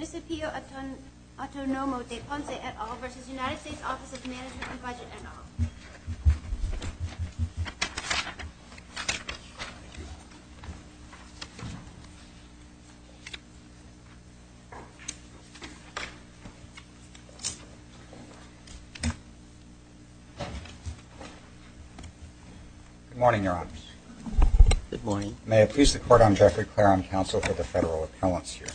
and Budget, et al., v. United States Office of Management and Budget, et al. Good morning, Your Honors. Good morning. May it please the Court, I'm Jeffrey Clare, I'm Counsel for the Federal Appellants here.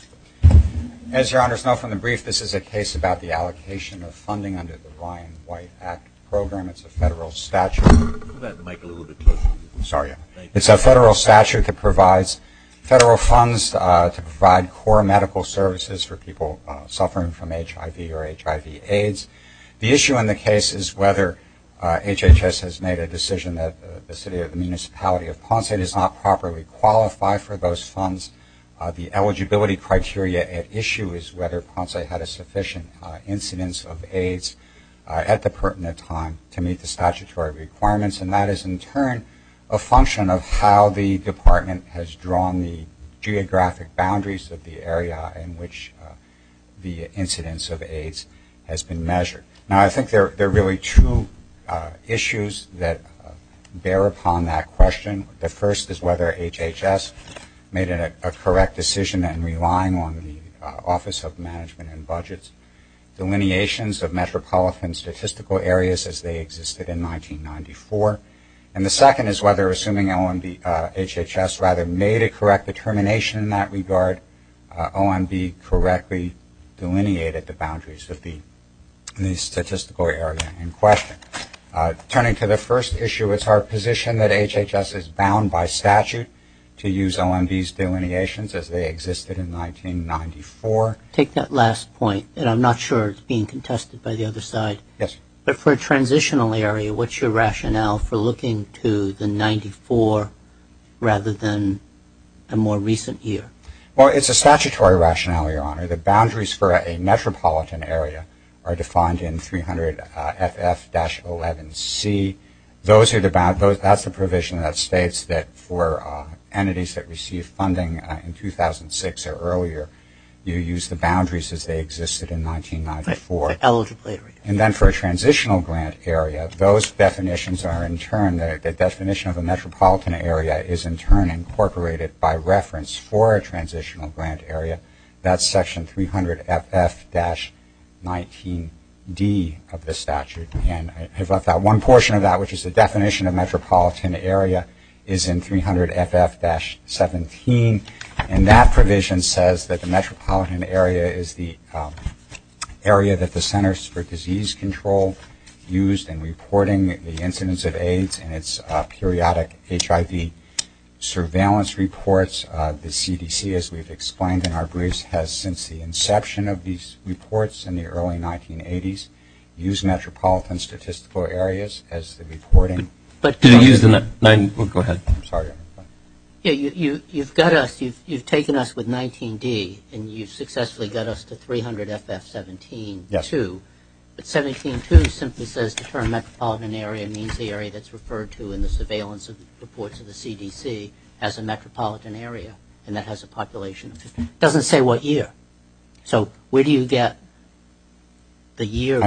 As Your Honors know from the brief, this is a case about the allocation of funding under the Ryan White Act program. It's a federal statute. It's a federal statute that provides federal funds to provide core medical services for people suffering from HIV or HIV-AIDS. The issue in the case is whether HHS has made a decision that the city or the municipality of Ponce does not properly qualify for those funds. The eligibility criteria at issue is whether Ponce had a sufficient incidence of AIDS at the pertinent time to meet the statutory requirements. And that is, in turn, a function of how the Department has drawn the geographic boundaries of the area in which the incidence of AIDS has been measured. Now, I think there are really two issues that bear upon that question. The first is whether HHS made a correct decision in relying on the Office of Management and Budget's delineations of metropolitan statistical areas as they existed in 1994. And the second is whether, assuming HHS rather made a correct determination in that regard, OMB correctly delineated the boundaries of the statistical area in question. Turning to the first issue, it's our position that HHS is bound by statute to use OMB's delineations as they existed in 1994. Take that last point, and I'm not sure it's being contested by the other side. Yes. But for a transitional area, what's your rationale for looking to the 94 rather than a more recent year? Well, it's a statutory rationale, Your Honor. The boundaries for a metropolitan area are defined in 300 FF-11C. That's the provision that states that for entities that receive funding in 2006 or earlier, you use the boundaries as they existed in 1994. The eligible area. And then for a transitional grant area, those definitions are in turn, the definition of a metropolitan area is in turn incorporated by reference for a transitional grant area. That's section 300 FF-19D of the statute. And I have left out one portion of that, which is the definition of metropolitan area is in 300 FF-17. And that provision says that the metropolitan area is the area that the Centers for Disease Control used in reporting the incidence of AIDS and its periodic HIV surveillance reports. The CDC, as we've explained in our briefs, has since the inception of these reports in the early 1980s used metropolitan statistical areas as the reporting. Did it use the 19? Go ahead. I'm sorry. You've got us, you've taken us with 19-D and you've successfully got us to 300 FF-17-2. But 17-2 simply says the term metropolitan area means the area that's referred to in the surveillance reports of the CDC as a metropolitan area and that has a population of 50. It doesn't say what year. So where do you get the year?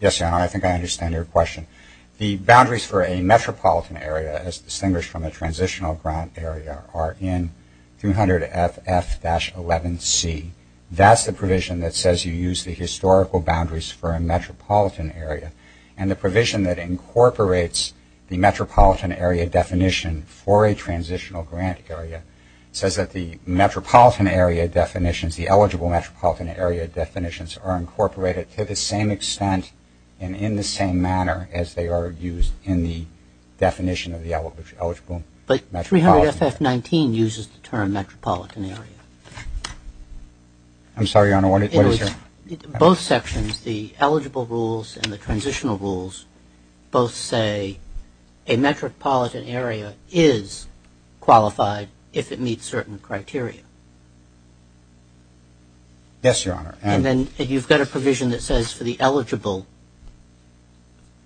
Yes, I think I understand your question. The boundaries for a metropolitan area as distinguished from a transitional grant area are in 300 FF-11C. That's the provision that says you use the historical boundaries for a metropolitan area. And the provision that incorporates the metropolitan area definition for a transitional grant area says that the metropolitan area definitions, the eligible metropolitan area definitions are incorporated to the same extent and in the same manner as they are used in the definition of the eligible metropolitan area. But 300 FF-19 uses the term metropolitan area. I'm sorry, Your Honor, what is your? Both sections, the eligible rules and the transitional rules, both say a metropolitan area is qualified if it meets certain criteria. Yes, Your Honor. And then you've got a provision that says for the eligible,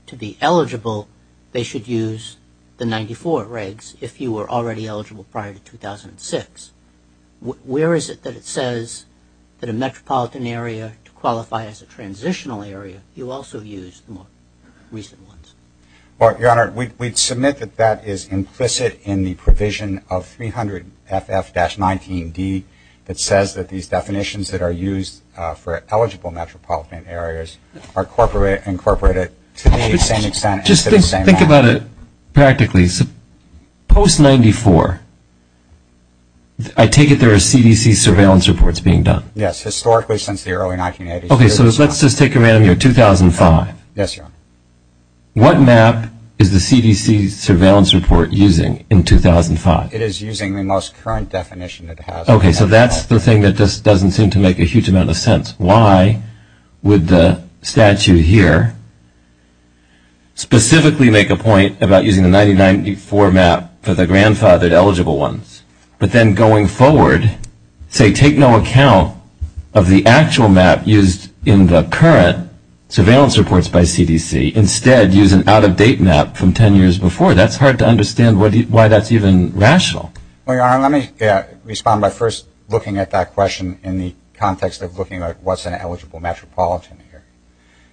to be eligible, they should use the 94 regs if you were already eligible prior to 2006. Where is it that it says that a metropolitan area to qualify as a transitional area, you also use the more recent ones? Well, Your Honor, we submit that that is implicit in the provision of 300 FF-19D that says that these definitions that are used for eligible metropolitan areas are incorporated to the same extent. Just think about it practically. Post-94, I take it there are CDC surveillance reports being done? Yes, historically since the early 1980s. Okay, so let's just take a random year, 2005. Yes, Your Honor. What map is the CDC surveillance report using in 2005? It is using the most current definition it has. Okay, so that's the thing that just doesn't seem to make a huge amount of sense. Why would the statute here specifically make a point about using the 1994 map for the grandfathered eligible ones, but then going forward say take no account of the actual map used in the current surveillance reports by CDC. Instead, use an out-of-date map from 10 years before. That's hard to understand why that's even rational. Well, Your Honor, let me respond by first looking at that question in the context of looking at what's an eligible metropolitan area.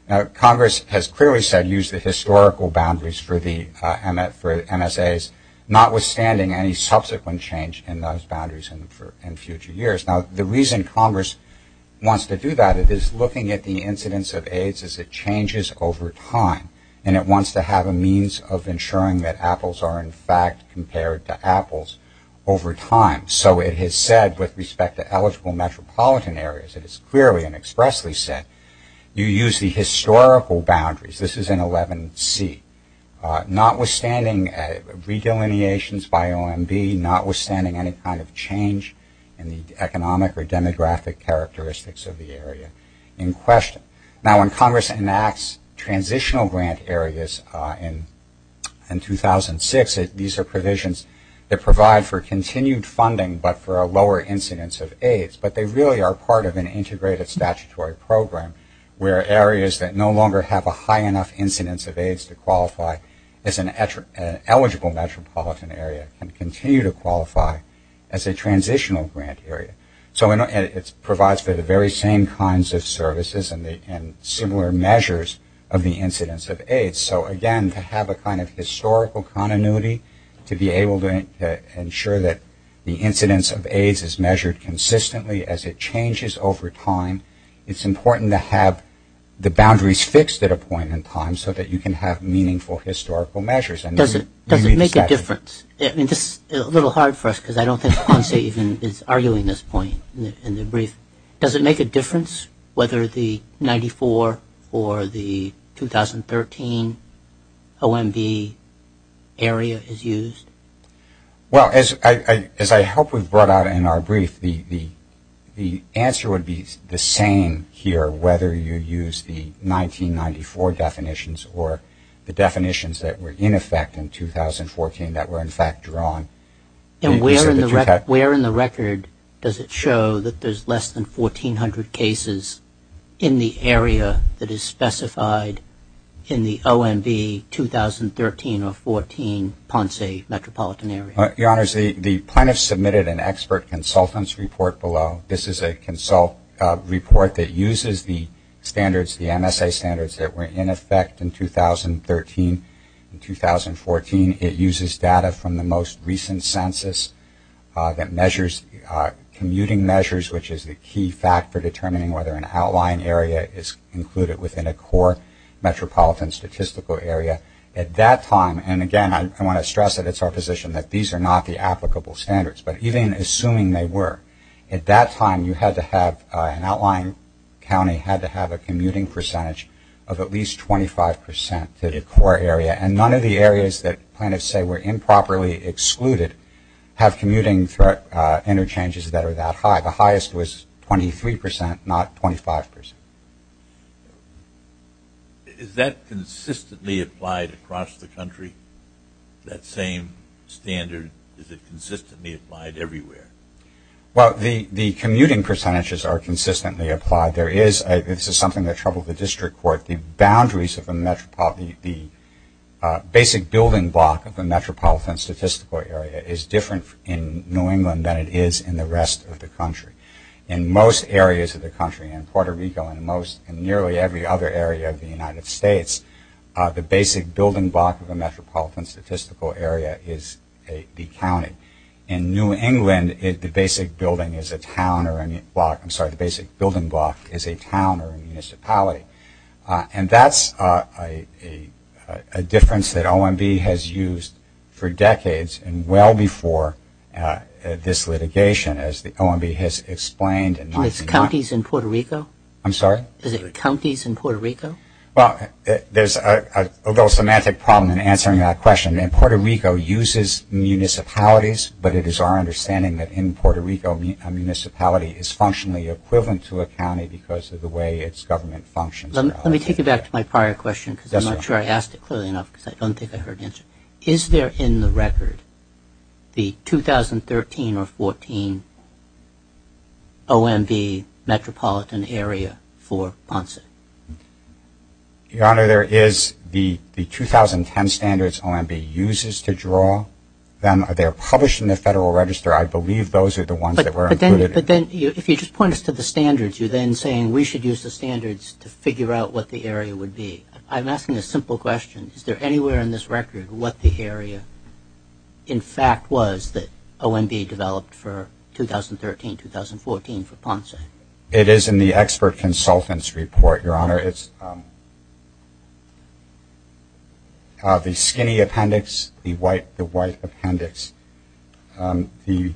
Now, Congress has clearly said use the historical boundaries for MSAs, notwithstanding any subsequent change in those boundaries in future years. Now, the reason Congress wants to do that is looking at the incidence of AIDS as it changes over time, and it wants to have a means of ensuring that apples are in fact compared to apples over time. So it has said with respect to eligible metropolitan areas, it has clearly and expressly said, you use the historical boundaries. This is in 11C. Notwithstanding redelineations by OMB, notwithstanding any kind of change in the economic or demographic characteristics of the area in question. Now, when Congress enacts transitional grant areas in 2006, these are provisions that provide for continued funding but for a lower incidence of AIDS. But they really are part of an integrated statutory program where areas that no longer have a high enough incidence of AIDS to qualify as an eligible metropolitan area can continue to qualify as a transitional grant area. So it provides for the very same kinds of services and similar measures of the incidence of AIDS. So, again, to have a kind of historical continuity to be able to ensure that the incidence of AIDS is measured consistently as it changes over time, it's important to have the boundaries fixed at a point in time so that you can have meaningful historical measures. Does it make a difference? I mean, this is a little hard for us because I don't think Ponce even is arguing this point in the brief. Does it make a difference whether the 94 or the 2013 OMB area is used? Well, as I hope we've brought out in our brief, the answer would be the same here, whether you use the 1994 definitions or the definitions that were in effect in 2014 that were, in fact, drawn. And where in the record does it show that there's less than 1,400 cases in the area that is specified in the OMB 2013 or 2014 Ponce metropolitan area? Your Honors, the plaintiffs submitted an expert consultant's report below. This is a consult report that uses the standards, the MSA standards that were in effect in 2013 and 2014. It uses data from the most recent census that measures commuting measures, which is the key factor determining whether an outline area is included within a core metropolitan statistical area. At that time, and, again, I want to stress that it's our position that these are not the applicable standards. But even assuming they were, at that time you had to have an outline county had to have a commuting percentage of at least 25% to the core area. And none of the areas that plaintiffs say were improperly excluded have commuting interchanges that are that high. The highest was 23%, not 25%. Is that consistently applied across the country, that same standard? Is it consistently applied everywhere? Well, the commuting percentages are consistently applied. This is something that troubled the district court. The basic building block of the metropolitan statistical area is different in New England than it is in the rest of the country. In most areas of the country, in Puerto Rico and in nearly every other area of the United States, the basic building block of a metropolitan statistical area is the county. In New England, the basic building block is a town or a municipality. And that's a difference that OMB has used for decades and well before this litigation, as OMB has explained. Are these counties in Puerto Rico? I'm sorry? Is it counties in Puerto Rico? Well, there's a little semantic problem in answering that question. And Puerto Rico uses municipalities, but it is our understanding that in Puerto Rico, a municipality is functionally equivalent to a county because of the way its government functions. Let me take you back to my prior question because I'm not sure I asked it clearly enough because I don't think I heard the answer. Is there in the record the 2013 or 14 OMB metropolitan area for Ponce? Your Honor, there is the 2010 standards OMB uses to draw them. They're published in the Federal Register. I believe those are the ones that were included. But then if you just point us to the standards, you're then saying we should use the standards to figure out what the area would be. I'm asking a simple question. Is there anywhere in this record what the area, in fact, was that OMB developed for 2013-2014 for Ponce? It is in the expert consultant's report, Your Honor. It's the skinny appendix, the white appendix. I believe,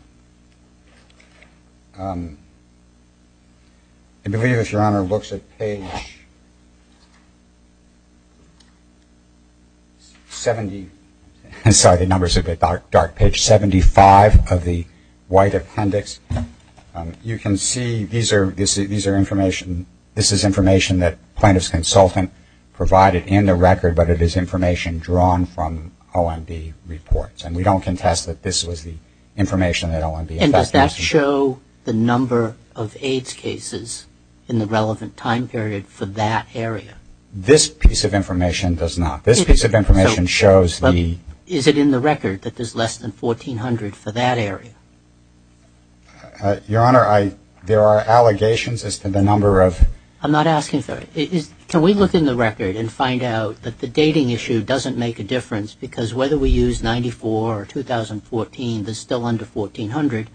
if Your Honor looks at page 70, sorry, the numbers are a bit dark, page 75 of the white appendix, you can see these are information, this is information that plaintiff's consultant provided in the record, but it is information drawn from OMB reports. And we don't contest that this was the information that OMB. And does that show the number of AIDS cases in the relevant time period for that area? This piece of information does not. This piece of information shows the. Is it in the record that there's less than 1,400 for that area? Your Honor, there are allegations as to the number of. I'm not asking for it. Can we look in the record and find out that the dating issue doesn't make a difference because whether we use 94 or 2014, there's still under 1,400,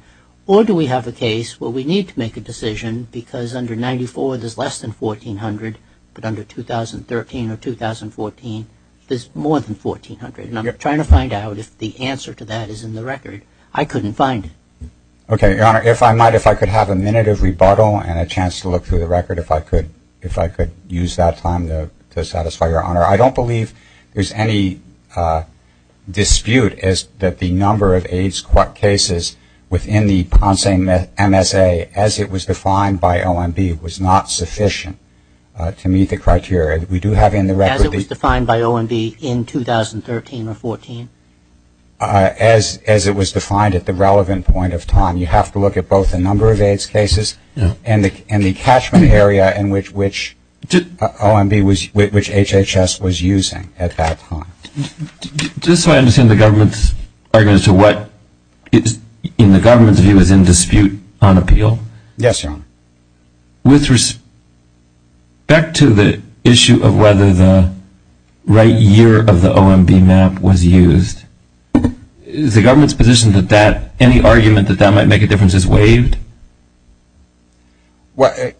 or do we have a case where we need to make a decision because under 94, there's less than 1,400, but under 2013 or 2014, there's more than 1,400? And I'm trying to find out if the answer to that is in the record. I couldn't find it. Okay, Your Honor, if I might, if I could have a minute of rebuttal and a chance to look through the record if I could use that time to satisfy Your Honor. I don't believe there's any dispute that the number of AIDS cases within the Ponce MSA, as it was defined by OMB, was not sufficient to meet the criteria. We do have in the record. As it was defined by OMB in 2013 or 2014? As it was defined at the relevant point of time. You have to look at both the number of AIDS cases and the catchment area in which OMB, which HHS was using at that time. Just so I understand the government's argument as to what, in the government's view, is in dispute on appeal. Yes, Your Honor. With respect to the issue of whether the right year of the OMB map was used, is the government's position that that, any argument that that might make a difference is waived? Well,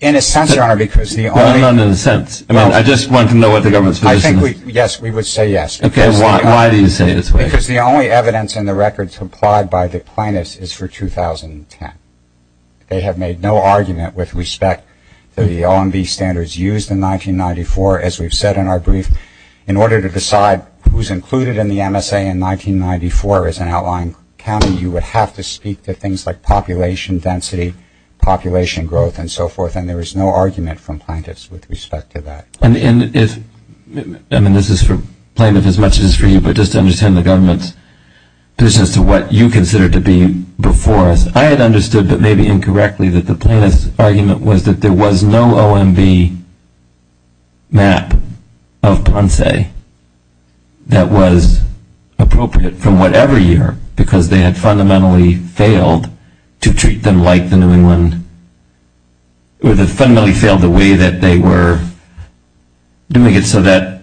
in a sense, Your Honor, because the only. No, no, no, in a sense. I mean, I just want to know what the government's position is. I think we, yes, we would say yes. Okay, why do you say it's waived? Because the only evidence in the record supplied by the plaintiffs is for 2010. They have made no argument with respect to the OMB standards used in 1994, as we've said in our brief, in order to decide who's included in the MSA in 1994 as an outlying county, you would have to speak to things like population density, population growth, and so forth, and there is no argument from plaintiffs with respect to that. And if, I mean, this is for plaintiffs as much as it is for you, but just to understand the government's position as to what you consider to be before us. I had understood, but maybe incorrectly, that the plaintiff's argument was that there was no OMB map of Ponce that was appropriate from whatever year because they had fundamentally failed to treat them like the New England, or they fundamentally failed the way that they were doing it so that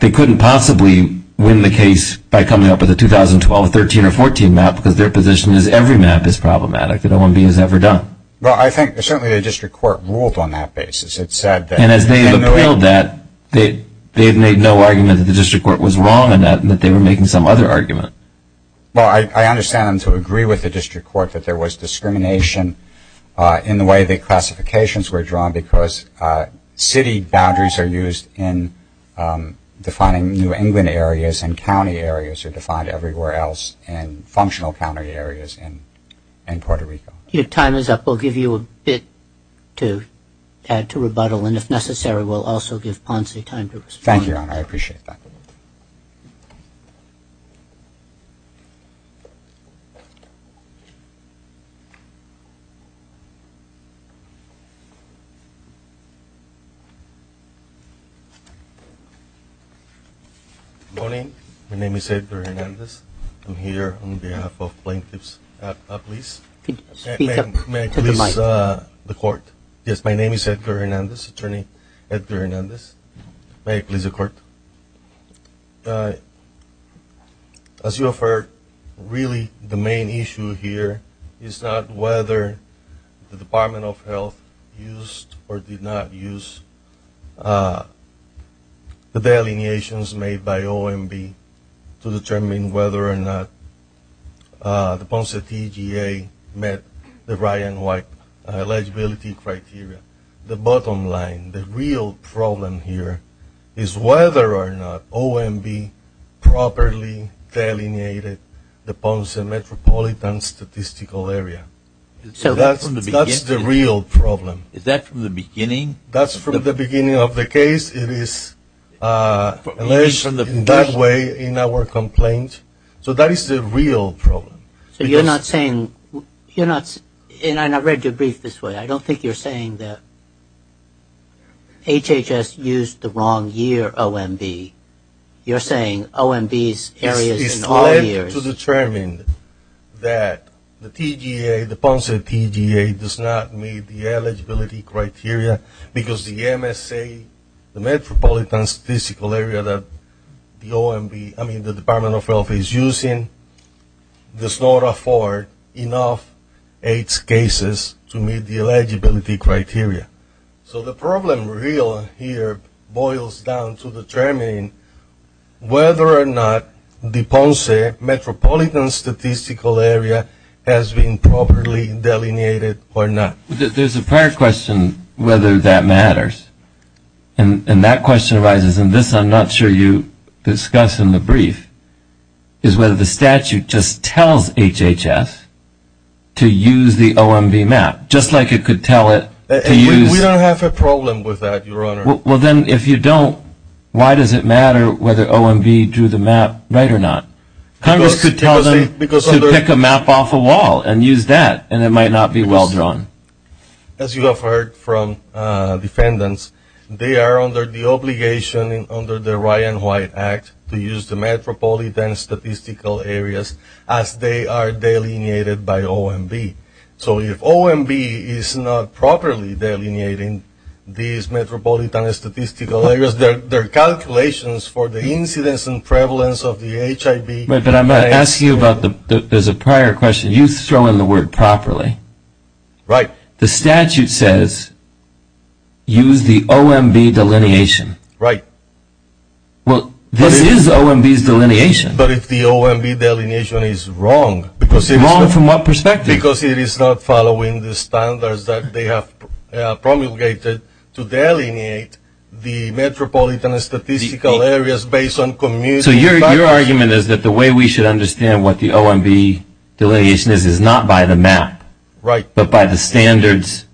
they couldn't possibly win the case by coming up with a 2012, 13, or 14 map because their position is every map is problematic that OMB has ever done. Well, I think certainly the district court ruled on that basis. It said that. And as they have appealed that, they have made no argument that the district court was wrong and that they were making some other argument. Well, I understand them to agree with the district court that there was discrimination in the way the classifications were drawn because city boundaries are used in defining New England areas and county areas are defined everywhere else in functional county areas in Puerto Rico. Your time is up. We'll give you a bit to add to rebuttal. And if necessary, we'll also give Ponce time to respond. Thank you, Your Honor. I appreciate that. Good morning. My name is Edgar Hernandez. I'm here on behalf of plaintiffs. May I please have the court? Yes, my name is Edgar Hernandez, Attorney Edgar Hernandez. May I please have the court? As you have heard, really the main issue here is not whether the Department of Health used or did not use the delineations made by OMB to determine whether or not the Ponce TGA met the Ryan White eligibility criteria. The bottom line, the real problem here is whether or not OMB properly delineated the Ponce metropolitan statistical area. So that's the real problem. Is that from the beginning? That's from the beginning of the case. It is in that way in our complaint. So that is the real problem. So you're not saying, you're not, and I read your brief this way. I don't think you're saying that HHS used the wrong year OMB. You're saying OMB's areas in all years. It's clear to determine that the TGA, the Ponce TGA does not meet the eligibility criteria because the MSA, the metropolitan statistical area that the OMB, I mean the Department of Health is using, does not afford enough H cases to meet the eligibility criteria. So the problem real here boils down to determining whether or not the Ponce metropolitan statistical area has been properly delineated or not. There's a prior question whether that matters. And that question arises, and this I'm not sure you discussed in the brief, is whether the statute just tells HHS to use the OMB map, just like it could tell it to use. We don't have a problem with that, Your Honor. Well, then if you don't, why does it matter whether OMB drew the map right or not? Congress could tell them to pick a map off a wall and use that, and it might not be well drawn. As you have heard from defendants, they are under the obligation under the Ryan White Act to use the metropolitan statistical areas as they are delineated by OMB. So if OMB is not properly delineating these metropolitan statistical areas, their calculations for the incidence and prevalence of the HIV. But I'm going to ask you about, there's a prior question, you throw in the word properly. Right. The statute says use the OMB delineation. Right. Well, this is OMB's delineation. But if the OMB delineation is wrong. Wrong from what perspective? Because it is not following the standards that they have promulgated to delineate the metropolitan statistical areas based on community factors. So your argument is that the way we should understand what the OMB delineation is, is not by the map. Right. But by the standards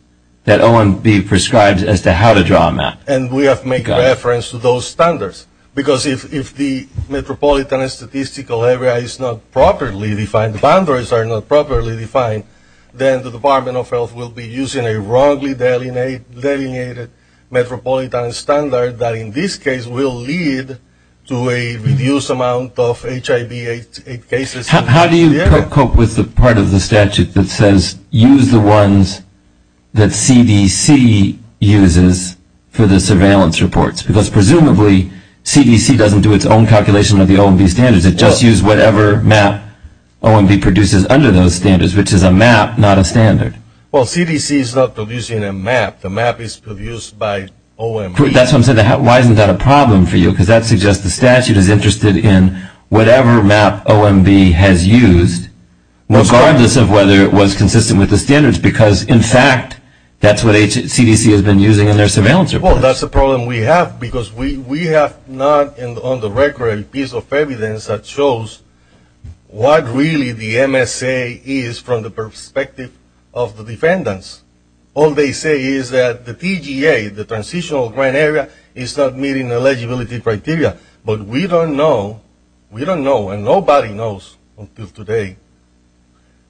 that OMB prescribes as to how to draw a map. And we have to make reference to those standards. Because if the metropolitan statistical area is not properly defined, the boundaries are not properly defined, then the Department of Health will be using a wrongly delineated metropolitan standard that in this case will lead to a reduced amount of HIV cases. How do you cope with the part of the statute that says, use the ones that CDC uses for the surveillance reports? Because presumably CDC doesn't do its own calculation of the OMB standards. It just uses whatever map OMB produces under those standards, which is a map, not a standard. Well, CDC is not producing a map. The map is produced by OMB. That's what I'm saying. Why isn't that a problem for you? Because that suggests the statute is interested in whatever map OMB has used, regardless of whether it was consistent with the standards. Because, in fact, that's what CDC has been using in their surveillance reports. Well, that's a problem we have. Because we have not on the record a piece of evidence that shows what really the MSA is from the perspective of the defendants. All they say is that the TGA, the transitional grant area, is not meeting the eligibility criteria. But we don't know. We don't know. And nobody knows until today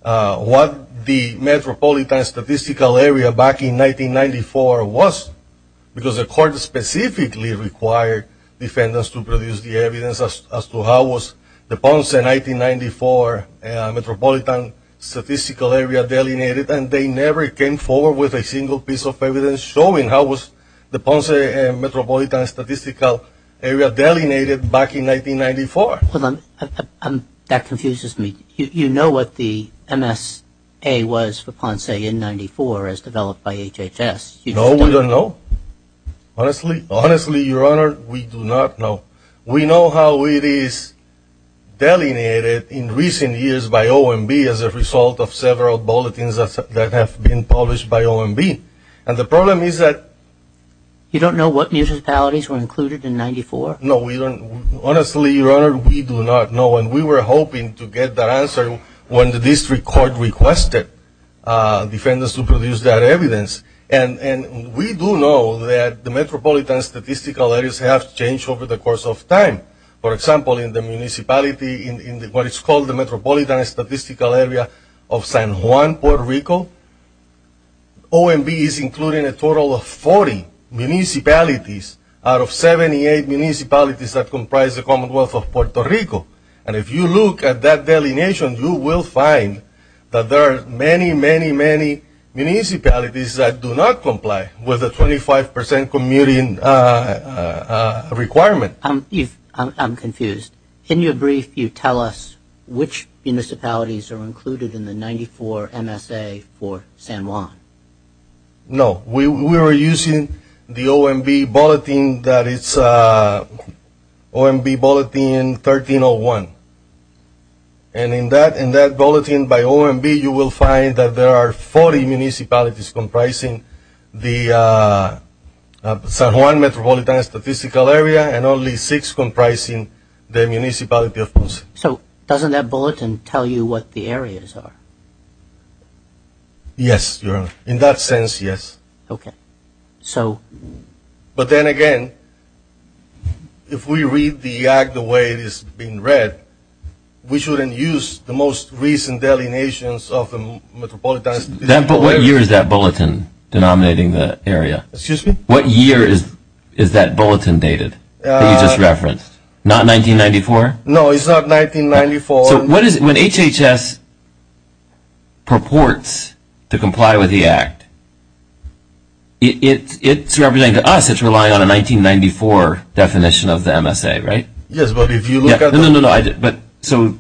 what the metropolitan statistical area back in 1994 was. Because the court specifically required defendants to produce the evidence as to how was the Ponce 1994 metropolitan statistical area delineated. And they never came forward with a single piece of evidence showing how was the Ponce metropolitan statistical area delineated back in 1994. Hold on. That confuses me. You know what the MSA was for Ponce in 94, as developed by HHS. No, we don't know. Honestly? Honestly, Your Honor, we do not know. We know how it is delineated in recent years by OMB as a result of several bulletins that have been published by OMB. And the problem is that. You don't know what municipalities were included in 94? No, we don't. Honestly, Your Honor, we do not know. And we were hoping to get that answer when the district court requested defendants to produce that evidence. And we do know that the metropolitan statistical areas have changed over the course of time. For example, in the municipality, in what is called the metropolitan statistical area of San Juan, Puerto Rico, OMB is including a total of 40 municipalities out of 78 municipalities that comprise the Commonwealth of Puerto Rico. And if you look at that delineation, you will find that there are many, many, many municipalities that do not comply with the 25 percent commuting requirement. I'm confused. In your brief, you tell us which municipalities are included in the 94 MSA for San Juan. No. We were using the OMB bulletin that is OMB bulletin 1301. And in that bulletin by OMB, you will find that there are 40 municipalities comprising the San Juan metropolitan statistical area and only six comprising the municipality of Ponce. So doesn't that bulletin tell you what the areas are? Yes, Your Honor. In that sense, yes. Okay. So... But then again, if we read the act the way it is being read, we shouldn't use the most recent delineations of the metropolitan... But what year is that bulletin denominating the area? Excuse me? What year is that bulletin dated that you just referenced? Not 1994? No, it's not 1994. So when HHS purports to comply with the act, it's representing to us it's relying on a 1994 definition of the MSA, right? Yes, but if you look at the... No, no, no. So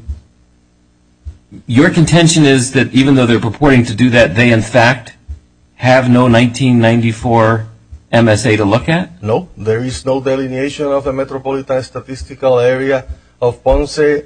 your contention is that even though they're purporting to do that, they in fact have no 1994 MSA to look at? No, there is no delineation of the metropolitan statistical area of Ponce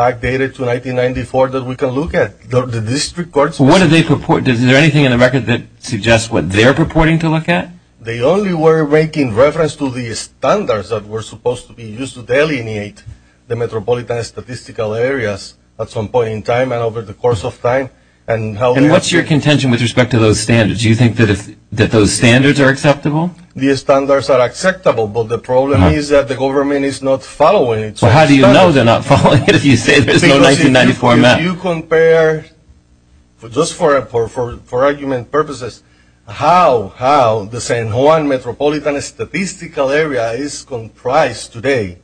backdated to 1994 that we can look at. The district courts... What do they purport? Is there anything in the record that suggests what they're purporting to look at? They only were making reference to the standards that were supposed to be used to delineate the metropolitan statistical areas at some point in time and over the course of time. And how... And what's your contention with respect to those standards? Do you think that those standards are acceptable? The standards are acceptable, but the problem is that the government is not following it. So how do you know they're not following it if you say there's no 1994 MSA? Because if you compare, just for argument purposes, how the San Juan metropolitan statistical area is comprised today,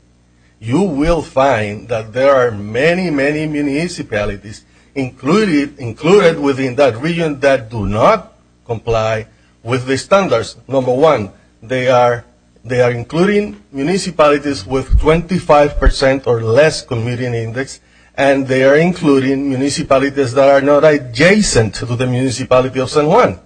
you will find that there are many, many municipalities included within that region that do not comply with the standards. Number one, they are including municipalities with 25 percent or less community index, and they are including municipalities that are not adjacent to the municipality of San Juan.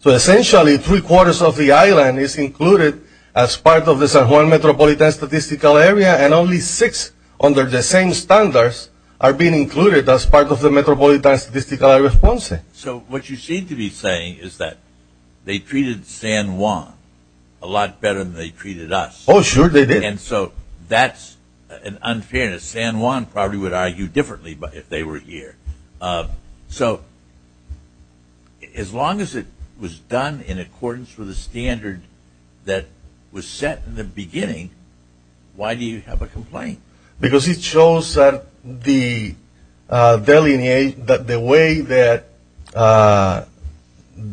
So essentially, three-quarters of the island is included as part of the San Juan metropolitan statistical area, and only six under the same standards are being included as part of the metropolitan statistical area of Ponce. So what you seem to be saying is that they treated San Juan a lot better than they treated us. Oh, sure they did. And so that's an unfairness. San Juan probably would argue differently if they were here. So as long as it was done in accordance with a standard that was set in the beginning, why do you have a complaint? Because it shows that the way that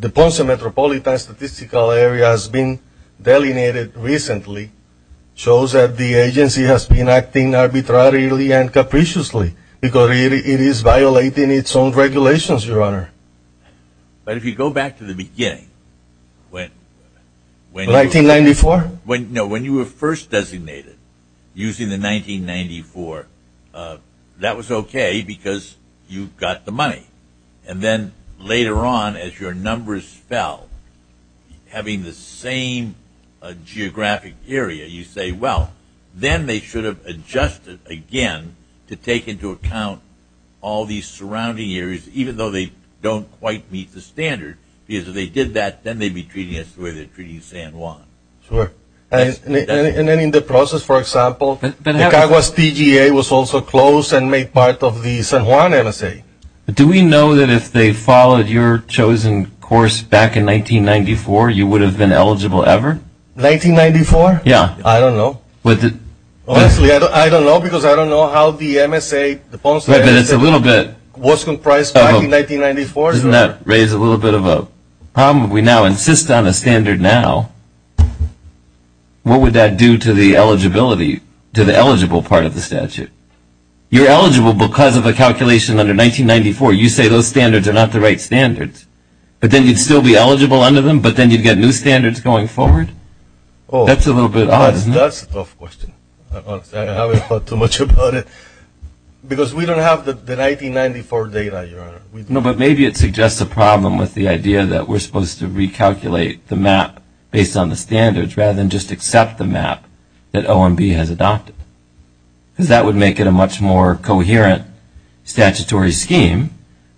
the Ponce metropolitan statistical area has been delineated recently shows that the agency has been acting arbitrarily and capriciously because it is violating its own regulations, Your Honor. But if you go back to the beginning, when you were first designated using the 1994, that was okay because you got the money. And then later on as your numbers fell, having the same geographic area, you say, well, then they should have adjusted again to take into account all these surrounding areas, even though they don't quite meet the standard. Because if they did that, then they'd be treating us the way they're treating San Juan. Sure. And then in the process, for example, the Caguas TGA was also closed and made part of the San Juan MSA. Do we know that if they followed your chosen course back in 1994, you would have been eligible ever? 1994? Yeah. I don't know. Honestly, I don't know because I don't know how the Ponce MSA was comprised back in 1994. Doesn't that raise a little bit of a problem? If we now insist on a standard now, what would that do to the eligibility, to the eligible part of the statute? You're eligible because of a calculation under 1994. You say those standards are not the right standards, but then you'd still be eligible under them, but then you'd get new standards going forward? That's a little bit odd, isn't it? That's a tough question. I haven't thought too much about it because we don't have the 1994 data, Your Honor. No, but maybe it suggests a problem with the idea that we're supposed to recalculate the map based on the standards rather than just accept the map that OMB has adopted. Because that would make it a much more coherent statutory scheme,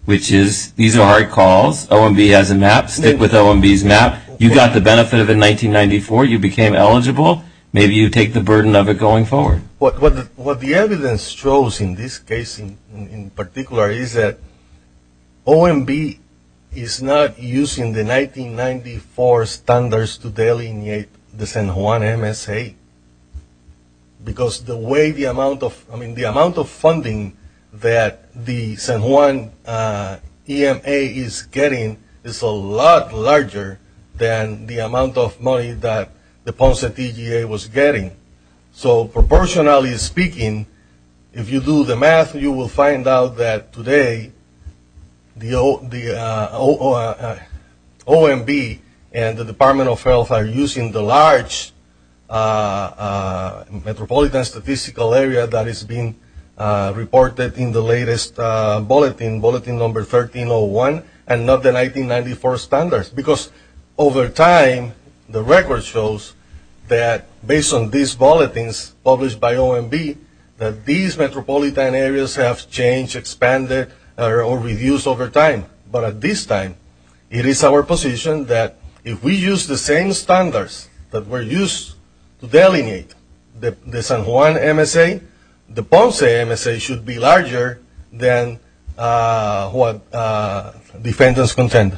which is these are hard calls. OMB has a map. Stick with OMB's map. You got the benefit of it in 1994. You became eligible. Maybe you take the burden of it going forward. What the evidence shows in this case, in particular, is that OMB is not using the 1994 standards to delineate the San Juan MSA because the way the amount of funding that the San Juan EMA is getting is a lot larger than the amount of money that the Ponce TGA was getting. So proportionally speaking, if you do the math, you will find out that today the OMB and the Department of Health are using the large metropolitan statistical area that is being reported in the latest bulletin, bulletin number 1301, and not the 1994 standards. Because over time, the record shows that based on these bulletins published by OMB, that these metropolitan areas have changed, expanded, or reduced over time. But at this time, it is our position that if we use the same standards that were used to delineate the San Juan MSA, the Ponce MSA should be larger than what defendants contend.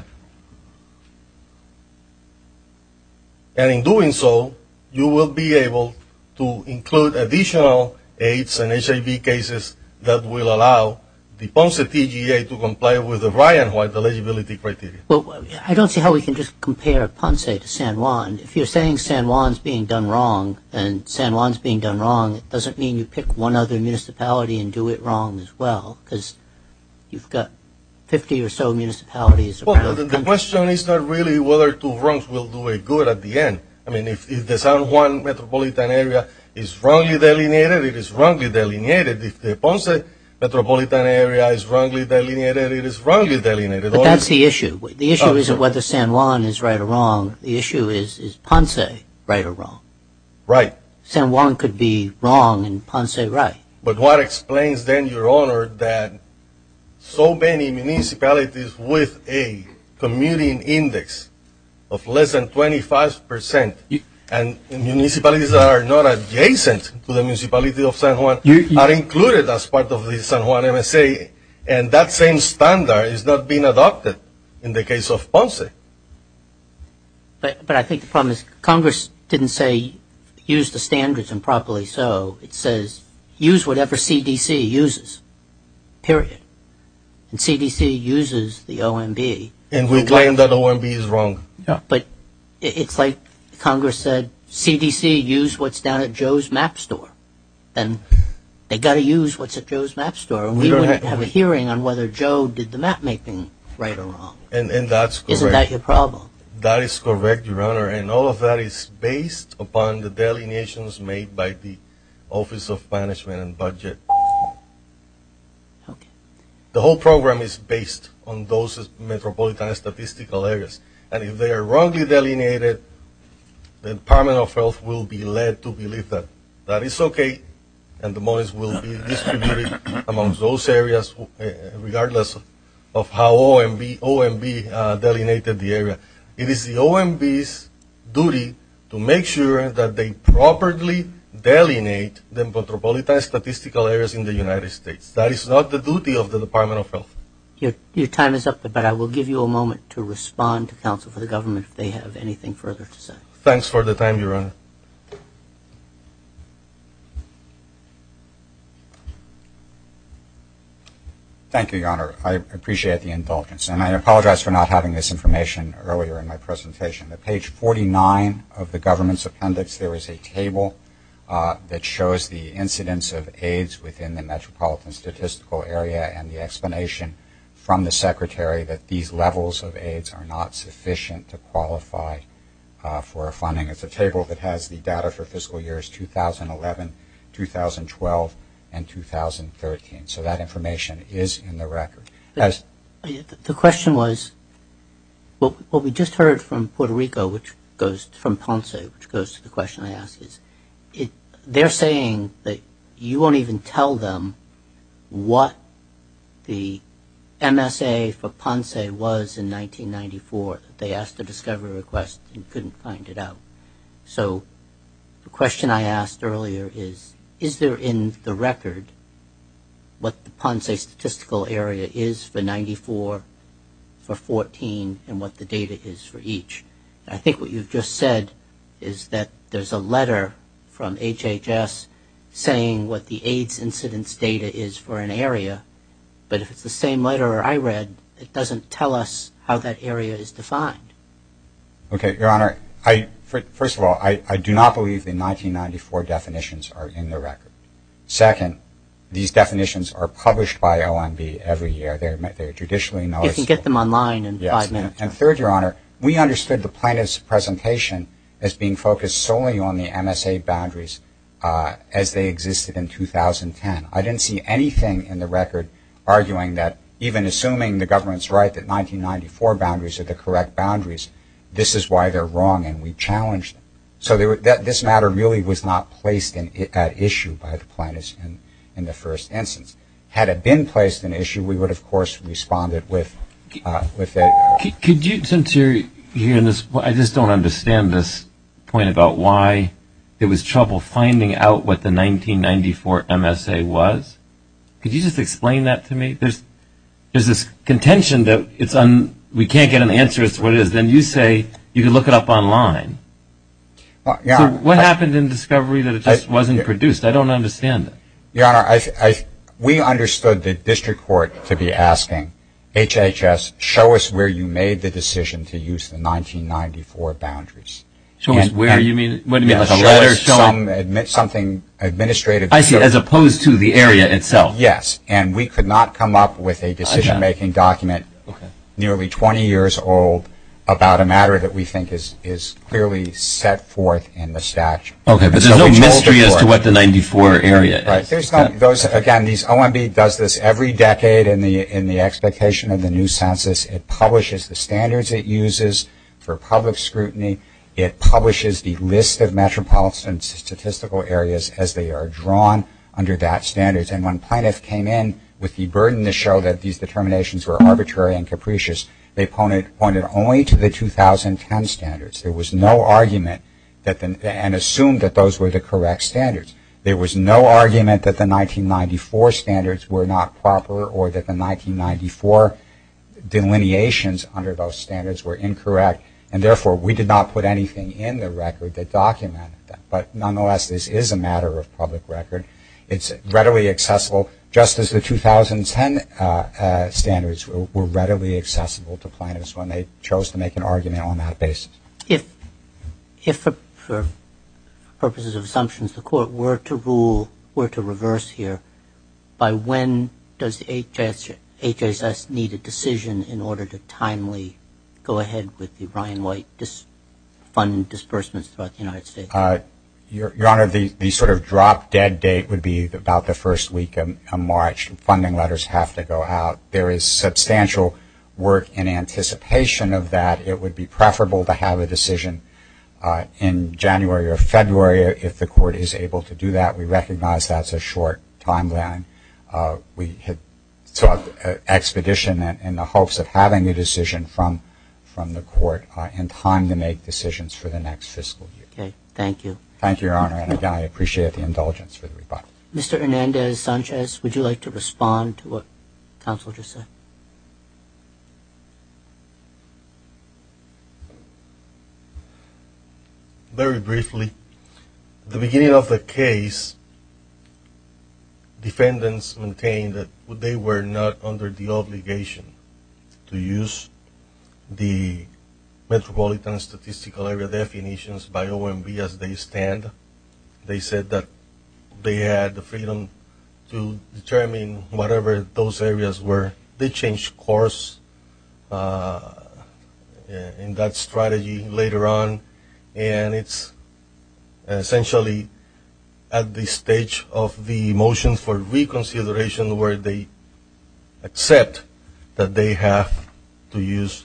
And in doing so, you will be able to include additional AIDS and HIV cases that will allow the Ponce TGA to comply with the Ryan White eligibility criteria. Well, I don't see how we can just compare Ponce to San Juan. If you're saying San Juan is being done wrong and San Juan is being done wrong, it doesn't mean you pick one other municipality and do it wrong as well, because you've got 50 or so municipalities. Well, the question is not really whether two wrongs will do it good at the end. I mean, if the San Juan metropolitan area is wrongly delineated, it is wrongly delineated if the Ponce metropolitan area is wrongly delineated, it is wrongly delineated. But that's the issue. The issue isn't whether San Juan is right or wrong. The issue is is Ponce right or wrong. Right. San Juan could be wrong and Ponce right. But what explains, then, Your Honor, that so many municipalities with a commuting index of less than 25%, and municipalities that are not adjacent to the municipality of San Juan, are included as part of the San Juan MSA, and that same standard is not being adopted in the case of Ponce? But I think the problem is Congress didn't say use the standards improperly. So it says use whatever CDC uses, period. And CDC uses the OMB. And we claim that OMB is wrong. But it's like Congress said, CDC, use what's down at Joe's Map Store. And they've got to use what's at Joe's Map Store. And we don't have a hearing on whether Joe did the map making right or wrong. And that's correct. Isn't that your problem? That is correct, Your Honor. And all of that is based upon the delineations made by the Office of Management and Budget. The whole program is based on those metropolitan statistical areas. And if they are wrongly delineated, the Department of Health will be led to believe that. That is okay. And the monies will be distributed amongst those areas, regardless of how OMB delineated the area. It is the OMB's duty to make sure that they properly delineate the metropolitan statistical areas in the United States. That is not the duty of the Department of Health. Your time is up. But I will give you a moment to respond to counsel for the government if they have anything further to say. Thanks for the time, Your Honor. Thank you, Your Honor. I appreciate the indulgence. And I apologize for not having this information earlier in my presentation. At page 49 of the government's appendix, there is a table that shows the incidence of AIDS within the metropolitan statistical area and the explanation from the Secretary that these levels of AIDS are not sufficient to qualify for funding. It's a table that has the data for fiscal years 2011, 2012, and 2013. So that information is in the record. The question was, what we just heard from Puerto Rico, which goes from Ponce, which goes to the question I asked, is they're saying that you won't even tell them what the MSA for Ponce was in 1994. They asked a discovery request and couldn't find it out. So the question I asked earlier is, is there in the record what the Ponce statistical area is for 94, for 14, and what the data is for each? I think what you've just said is that there's a letter from HHS saying what the AIDS incidence data is for an area. But if it's the same letter I read, it doesn't tell us how that area is defined. Okay, Your Honor. First of all, I do not believe the 1994 definitions are in the record. Second, these definitions are published by OMB every year. They're judicially known. You can get them online in five minutes. And third, Your Honor, we understood the plaintiff's presentation as being focused solely on the MSA boundaries as they existed in 2010. I didn't see anything in the record arguing that, even assuming the government's right that 1994 boundaries are the correct boundaries, this is why they're wrong, and we challenge them. So this matter really was not placed at issue by the plaintiffs in the first instance. Had it been placed at issue, we would, of course, have responded with it. Since you're here, I just don't understand this point about why there was trouble finding out what the 1994 MSA was. Could you just explain that to me? There's this contention that we can't get an answer as to what it is. Then you say you can look it up online. So what happened in discovery that it just wasn't produced? I don't understand it. Your Honor, we understood the district court to be asking HHS, show us where you made the decision to use the 1994 boundaries. Show us where you mean? What do you mean, like a letter showing something administrative? I see, as opposed to the area itself. Yes, and we could not come up with a decision-making document nearly 20 years old about a matter that we think is clearly set forth in the statute. Okay, but there's no mystery as to what the 94 area is. Again, these OMB does this every decade in the expectation of the new census. It publishes the standards it uses for public scrutiny. It publishes the list of metropolitan statistical areas as they are drawn under that standard. And when plaintiffs came in with the burden to show that these determinations were arbitrary and capricious, they pointed only to the 2010 standards. There was no argument and assumed that those were the correct standards. There was no argument that the 1994 standards were not proper or that the 1994 delineations under those standards were incorrect. And therefore, we did not put anything in the record that documented that. But nonetheless, this is a matter of public record. It's readily accessible, just as the 2010 standards were readily accessible to plaintiffs when they chose to make an argument on that basis. If, for purposes of assumptions, the Court were to rule, were to reverse here, by when does HHS need a decision in order to timely go ahead with the Ryan White fund disbursements throughout the United States? Your Honor, the sort of drop-dead date would be about the first week of March. Funding letters have to go out. There is substantial work in anticipation of that. It would be preferable to have a decision in January or February if the Court is able to do that. We recognize that's a short timeline. We had sought expedition in the hopes of having a decision from the Court in time to make decisions for the next fiscal year. Okay. Thank you. Thank you, Your Honor. And, again, I appreciate the indulgence for the rebuttal. Mr. Hernandez-Sanchez, would you like to respond to what counsel just said? Very briefly, at the beginning of the case, defendants maintained that they were not under the obligation to use the Metropolitan Statistical Area definitions by OMB as they stand. They said that they had the freedom to determine whatever those areas were. They changed course in that strategy later on, and it's essentially at the stage of the motions for reconsideration where they accept that they have to use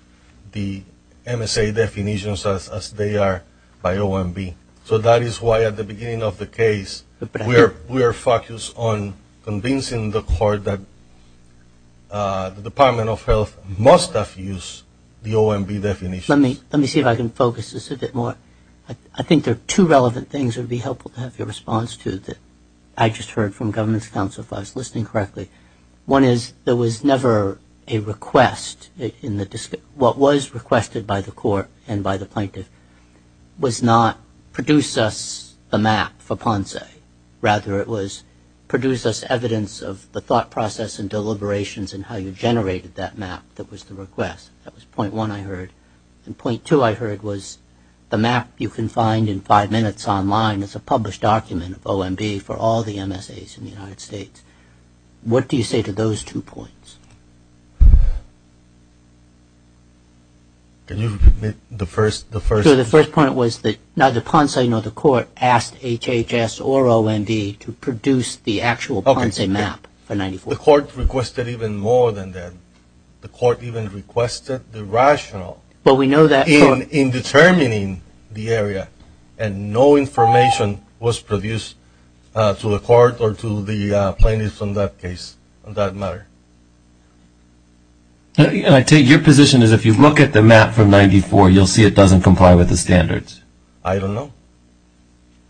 the MSA definitions as they are by OMB. So that is why, at the beginning of the case, we are focused on convincing the Court that the Department of Health must have used the OMB definitions. Let me see if I can focus this a bit more. I think there are two relevant things that would be helpful to have your response to that I just heard from government counsel, if I was listening correctly. One is there was never a request. What was requested by the Court and by the plaintiff was not produce us a map for Ponce. Rather, it was produce us evidence of the thought process and deliberations and how you generated that map that was the request. That was point one I heard. And point two I heard was the map you can find in five minutes online is a published document of OMB for all the MSAs in the United States. What do you say to those two points? Can you repeat the first? So the first point was that neither Ponce nor the Court asked HHS or OMB to produce the actual Ponce map for 94. The Court requested even more than that. The Court even requested the rationale in determining the area, and no information was produced to the Court or to the plaintiffs on that case, on that matter. I take your position as if you look at the map from 94, you'll see it doesn't comply with the standards. I don't know.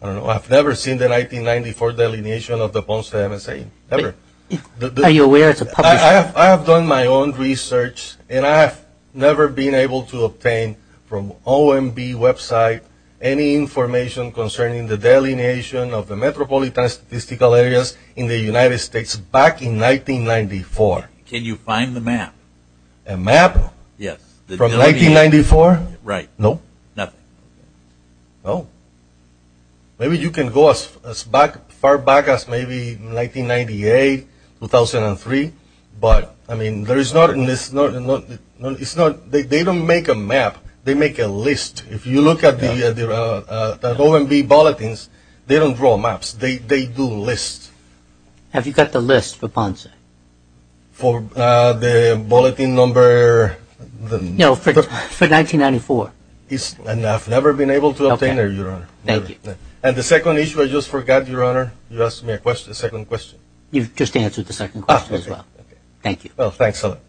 I don't know. I've never seen the 1994 delineation of the Ponce MSA, never. Are you aware it's a published? I have done my own research, and I have never been able to obtain from OMB website any information concerning the delineation of the metropolitan statistical areas in the United States back in 1994. Can you find the map? A map? Yes. From 1994? Right. No? Nothing. No. Maybe you can go as far back as maybe 1998, 2003, but, I mean, there is not, it's not, they don't make a map. They make a list. If you look at the OMB bulletins, they don't draw maps. They do lists. Have you got the list for Ponce? For the bulletin number? No, for 1994. And I've never been able to obtain it, Your Honor. Okay. Thank you. And the second issue I just forgot, Your Honor, you asked me a second question. You've just answered the second question as well. Okay. Thank you. Well, thanks a lot.